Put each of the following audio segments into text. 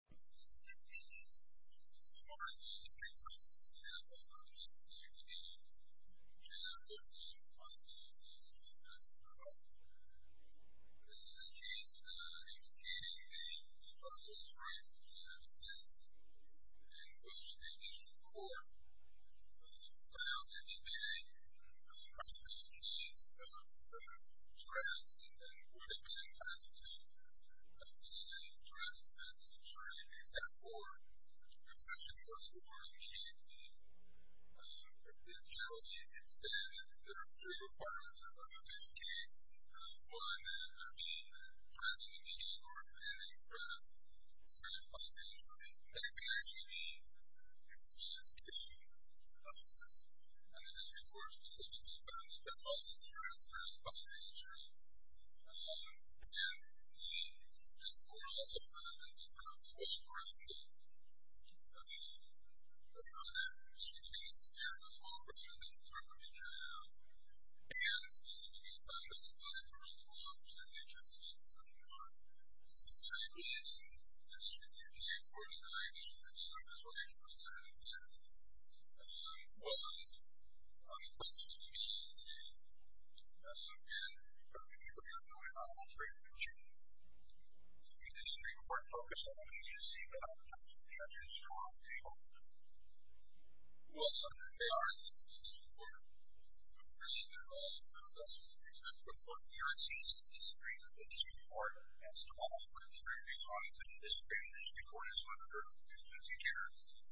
This is a case indicating the 2006 rape of a woman in Athens, in which the additional court found that the man had committed the case of a dress and then would have been attempted to dress as a jury in exact court. The question was, or indicated, that it's generally said that there are three requirements of the case. One, that there be dressing in the game or appearing in front of the jury's public interest. Second, there should be at least two customers. And the district court specifically found that there must be a jury in front of the jury. And the district court also found that there's a total of four people, I believe, that are there. There should be a jury as well, but I don't think there's a total jury there. And specifically, the fact that there's not a jurist involved, which is interesting, because if you look at the case, the district court in which the jurors were able to stand on their own, they were able to stand on their own. It's not a case of three people, but it's a case of three jurors, and it's a case of three jurors, and it's not a case of three jurors, and it's a case of three jurors, and it's a case of three jurors. So, there's a total of four jurors involved in the case.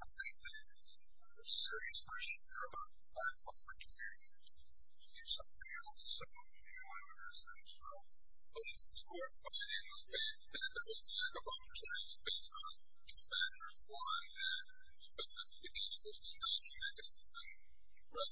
I think that, under serious pressure, there are a lot of platforms for communities to do something else. So, I understand, so, police, of course, are going to be able to make the most amount of contributions based on two factors. One, that the business community will see a lot of humanity in the rest of the world as well as police. And, just because, you know, there are other folks, brothers, wives, and friends, that are going to be able to do something else, I think, is going to give each one a number of other opportunities. And, if there's another opportunity, I think, it's going to be for us to be able to buy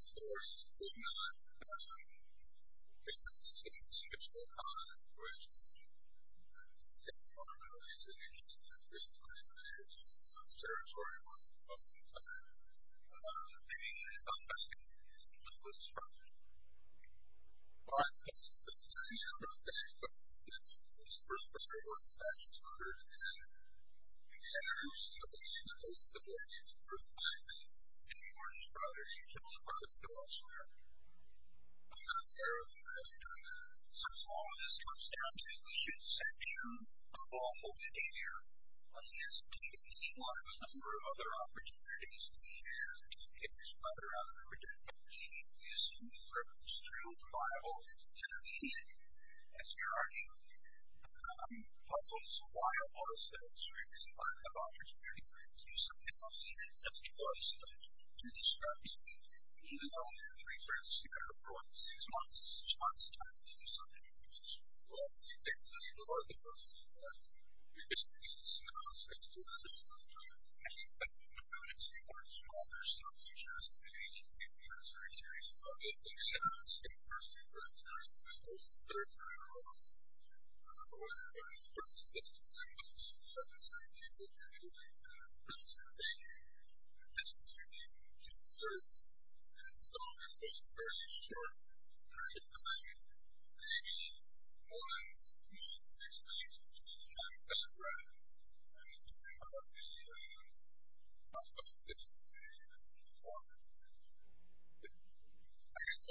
off humanity, as you're arguing. Also, it's a viable set of opportunities to do something else, and the choice to do this strategy, even though, for instance, you're going to have probably six months, six months of time to do something else. So, once you have six months of time to do something else, right, you can think about the type of decisions that you want to make. I guess, as far as the community, I'm sure you guys will see that. I'm sure you're seeing a lot of young people that are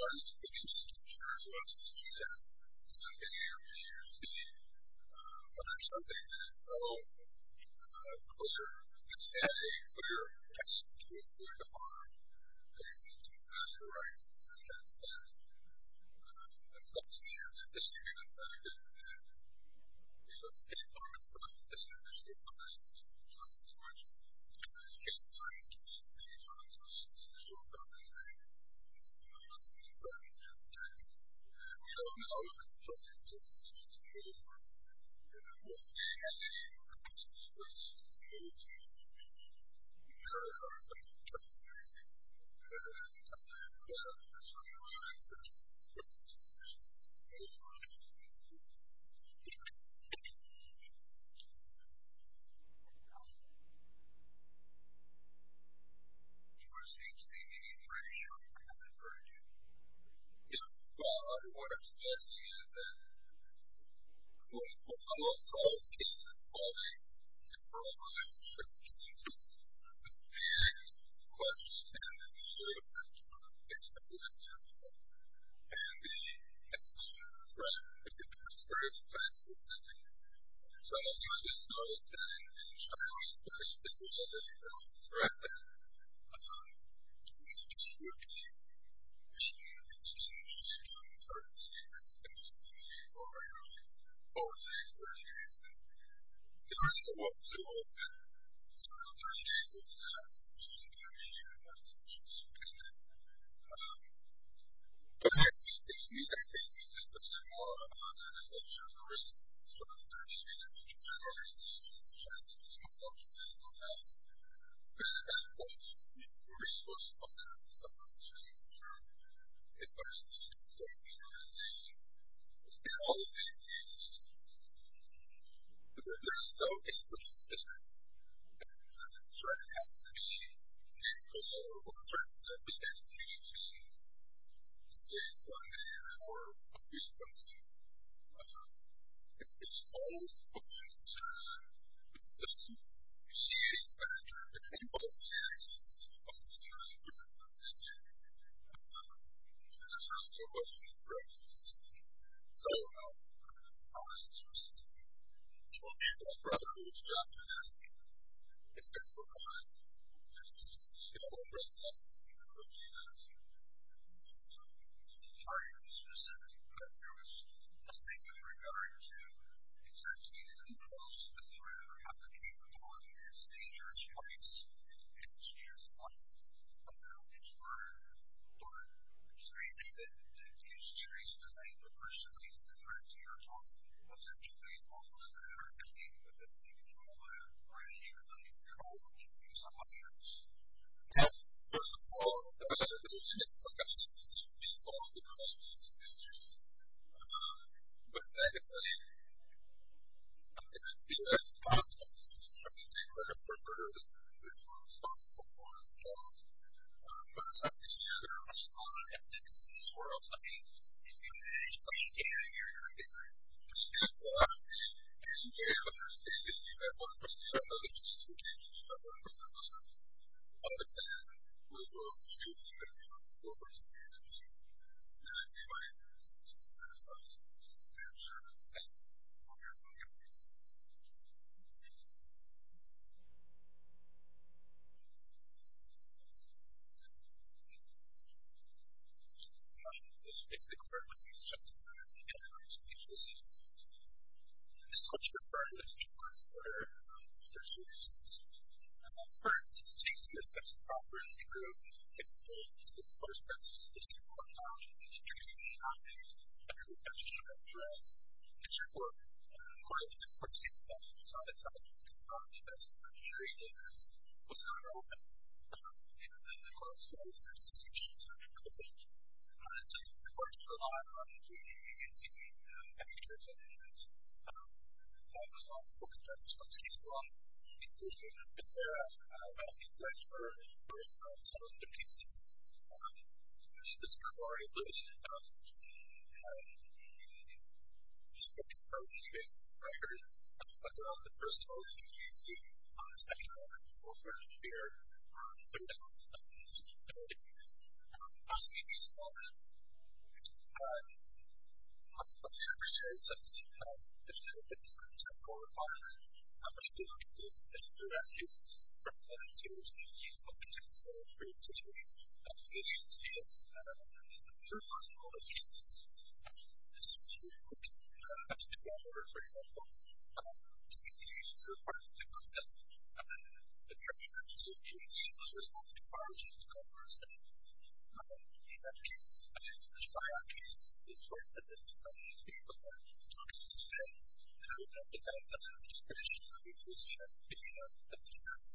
so clear, that they have a clear intention to avoid the harm, that they simply don't have the rights to protect themselves. Especially, as you say, you're going to have to, you know, seize moments of time to say that there's still time. There's still time to say, you know, you can't break this. There's still time to say, you know, there's still time to protect yourself. There's still time to say, you know, we don't know. It's a choice. It's a decision to make. It doesn't have to be a policy. It doesn't have to be a strategy. It doesn't have to be some kind of conspiracy. It doesn't have to be some kind of plan that's sort of a consensus. It's a decision to make. It doesn't have to be a policy. George seems to be pretty sure he hasn't heard you. Yeah. Well, what I'm suggesting is that, well, I love Saul's case involving his imperilment case, which is a very interesting question, and it really depends on who you're talking about. And the exposure to threat. It becomes very specific. Some of you have just noticed that in China, when they say, well, there's a threat there, they just would be thinking of it as a machine gun, sort of thinking of it as a machine gun to sabotage or do whatever it is, to force the expert to use it. Jennifer wants to know if some of the alternatives to institutional deterrent even made it into an institutional local thought. I actually succeed at taking a system at the law, and then essentially I risk sort of stating it as intramural organization which actually smart cultural has announced that at that point we were able to find out the sufferings of third institutions such as the organization in all of these cases. There's no thing such as standard. The threat has to be a form of threat. It doesn't have to be state-funded or publicly funded. It's always a function of deterrent. It's a mediating factor. In most cases, it's a function of interest and safety. There's no question it's racist. So, how is this perceived? Well, people have brought it to this chapter, and it's been forgotten. It's been overwritten by people who have taken it as a target specifically, but there was nothing in regards to exactly who caused the threat or had the capability. It's a dangerous place. And it's true that there are certain constraints that the institutions that are able to persuade the threat to your home, essentially, are the ones that are acting within the control of, or in the human control of, the use of violence. Yeah. First of all, there's a risk of actually perceiving people as the cause of these issues. But secondly, it is seen as impossible to see these things as perpetrators. They are responsible for this loss. But, as I see it, there are many common ethics in this world. I mean, if you manage to maintain it, you're going to get there. Yes. So, obviously, as you may have understood, if you have one person, you have others. If you have two people, you have one person, you have others. A lot of the time, we will choose the victim over the victim. And I see my interest in this exercise. I'm sure that's helpful. Thank you. I'm getting it. It's the question of the issue of seeking compensation. This question is referred what I'm going to address. First, taking into account this property would be that the company has disposed of, or has deployed, theft of valuables or used illegally to target and perpetrate threats to our guests. And, therefore, according to the sports case law, it's not entitled to the property that's perpetrated in this. It was not relevant. And, of course, all of the other suspicions are included. So, the court is going to rely on the CEA and other jurisdictions that are responsible to judge the sports case law, including Becerra. I'm asking the judge to bring some of the pieces. I'm going to use this as a third one in all the cases. This is really important. I'm just going to go over it, for example. So, part of the concept of the threat, you have to take into account that it was not a charge of some person. In that case, in the Spion case, this was simply from these people who are talking to the judge, who have the best understanding of the situation, who seem to be the best.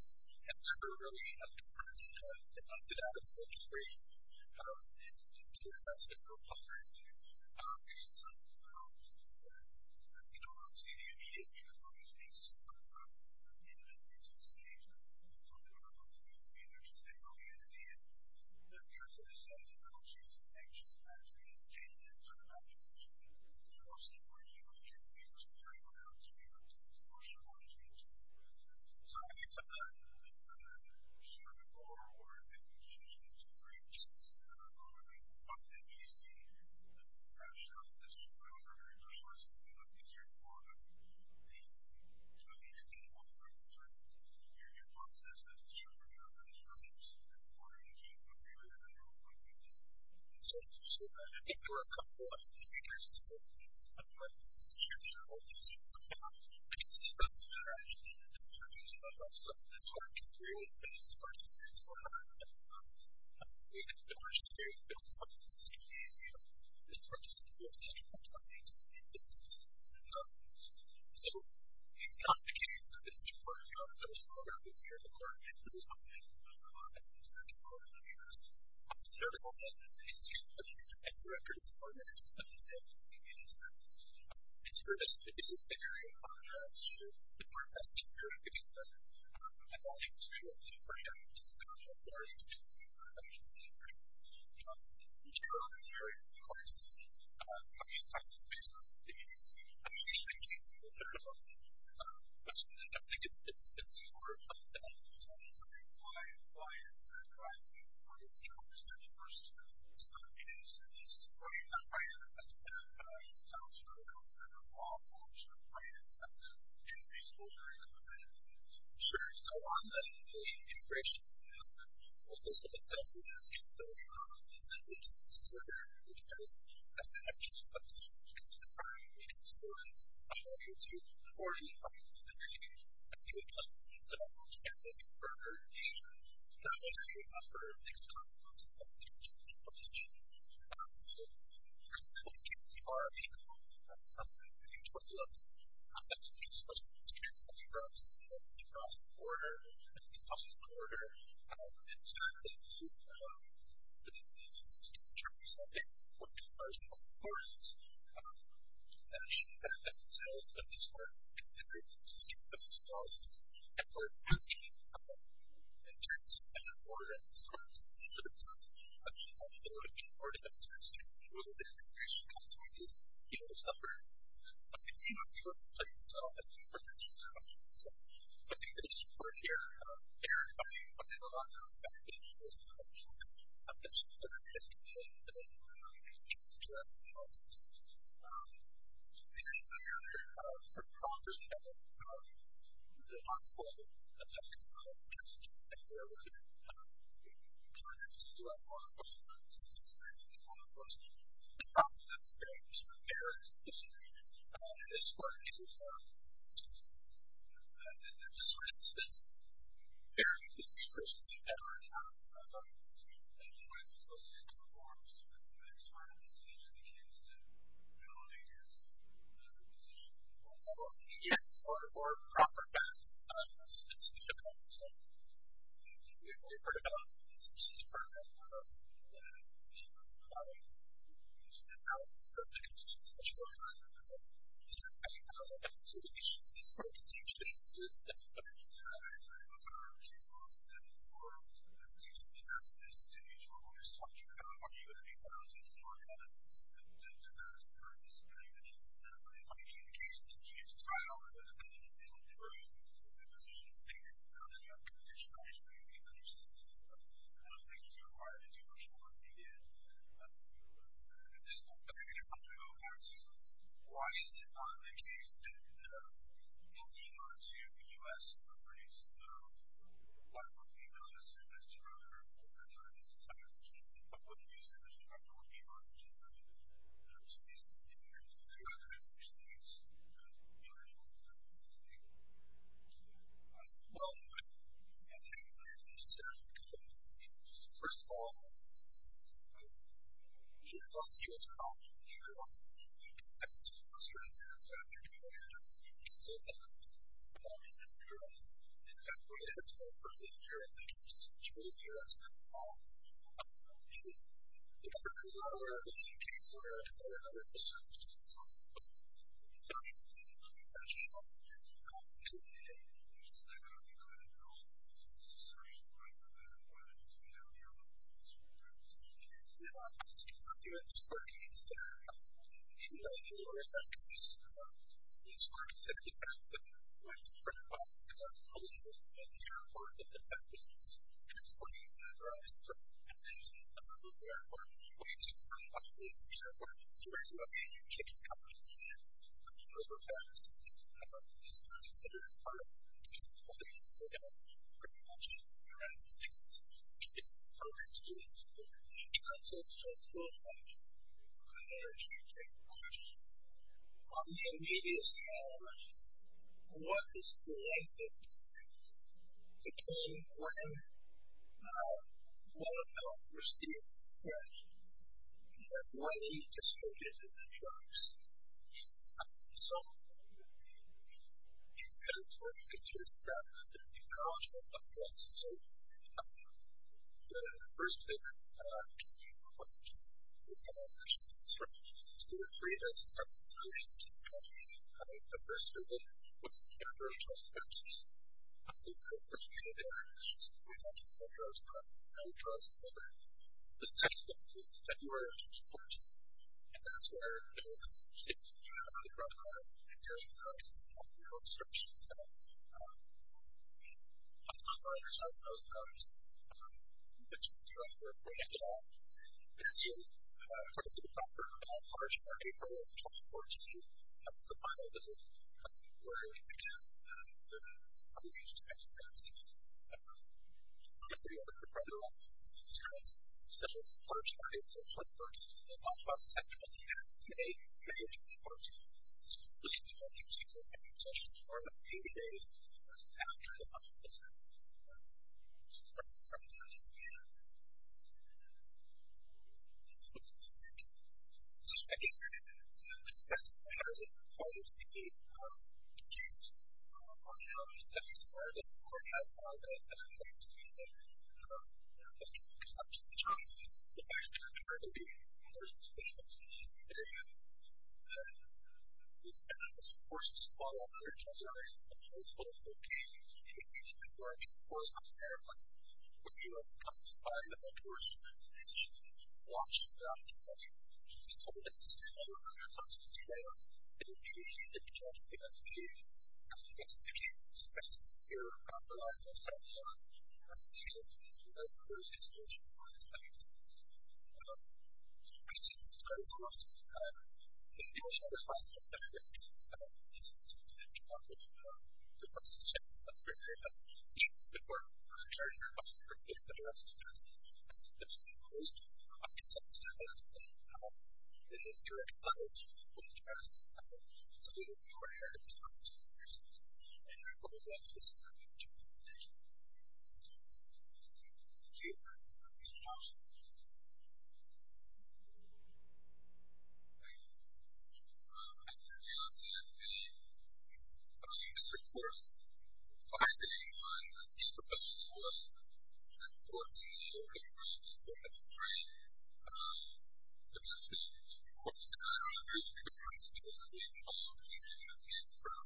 And, therefore, really have the courage to do that. And, therefore, can bring the best of both worlds. You don't want to see the immediacy. You don't want to see some of the evidence. You don't want to see some of the public. You don't want to see that there's just an oddity. You don't want to see that there's just an anxious attitude. You don't want to see that there's an unethical behavior. So, I think some of that, I think we should be more aware of the human experience. I don't know if it's something you see. I mean, I don't know if it's something else. I mean, I'm sure it's something that's easier to learn. I mean, I think it's really important for everyone to learn that the human experience is the human experience. And, therefore, it's a really important thing to see. So, I think there are a couple of indicators. The first one is that people tend to do a lot of things as a children. But, at least in the South, people to do this sort of interview and the highest reward, it's usually the therapy and the regular interview, and especially for people who've been on couch for their entire lives, it's really easy to miss participate in a lot of these interviews, and it really helps them. So, it's not the case that this is a part of the human experience or it's a part of what they actually do. I think that is very important, certainly in a consumer review. I think that the record is important, and it's something that communities have experimented with, and there is a contrast, of course, at least here in New York. But, I think it's really important to kind of clarify and say, okay, so how do you do interviews? And, here in New York, of course, I mean, based on the data, I mean, anything can be done. But, I think it's important that people start to say, why is that? Why do you want to do this? And, of course, it's not a case that this is right, not right in the sense that it's not to the extent of law in the sense of right in the sense of human exposure and kind of the like. Sure, so on the integration of the human, what this would have said would have said is that we are all these individuals that are very, very different and have different subsets of human beings. And, the primary reason for this, I don't know if you're too informed by the human community, but human subsets of our understanding of further engagement that may result or may have consequences of these issues of deportation. So, for example, you can see our opinion from the beginning of 2011 on how many human subsets were transported across the border and into public order. And, certainly, the determinants of it would be largely unimportant to mention that. And, so, in this work, it's very important to consider the policy and, of course, in terms of being deported as a source. So, for example, how many people would have been deported in terms of the role that integration consequences would have suffered. But, the US, for itself, I think, for the US population itself. So, I think the issue for here, here, I mean, under a lot of expectations of the population, there's a lot of things that I think that we really need to address in the process. In this area, sort of, there's a lot of, you know, the possible effects of immigration and border work in terms of the US population versus the US population. And, probably, that's a very, sort of, erroneous question. In this work, it would be more that, in this sort of, in this area, this research that you've had already, how do you, what is it supposed to do to inform sort of the decision against ability against repossession of people? Yes, or, or, proper facts on specific events. We've heard about this, we've heard about the the the the the the the the the the the the the the the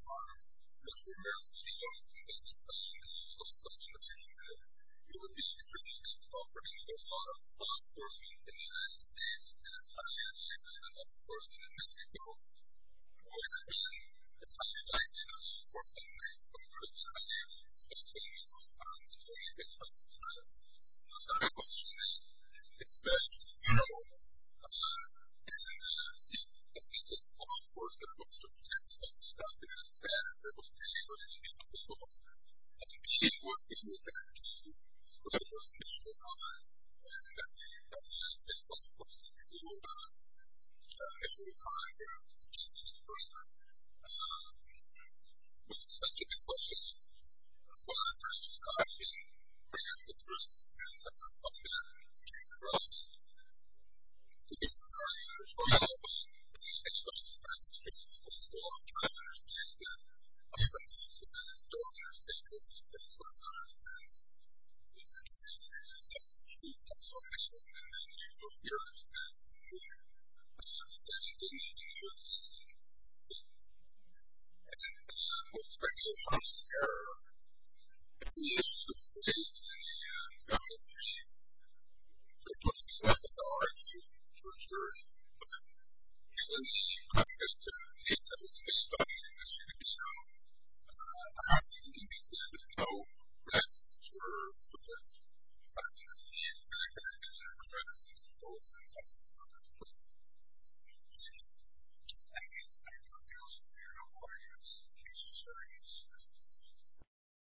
the the the the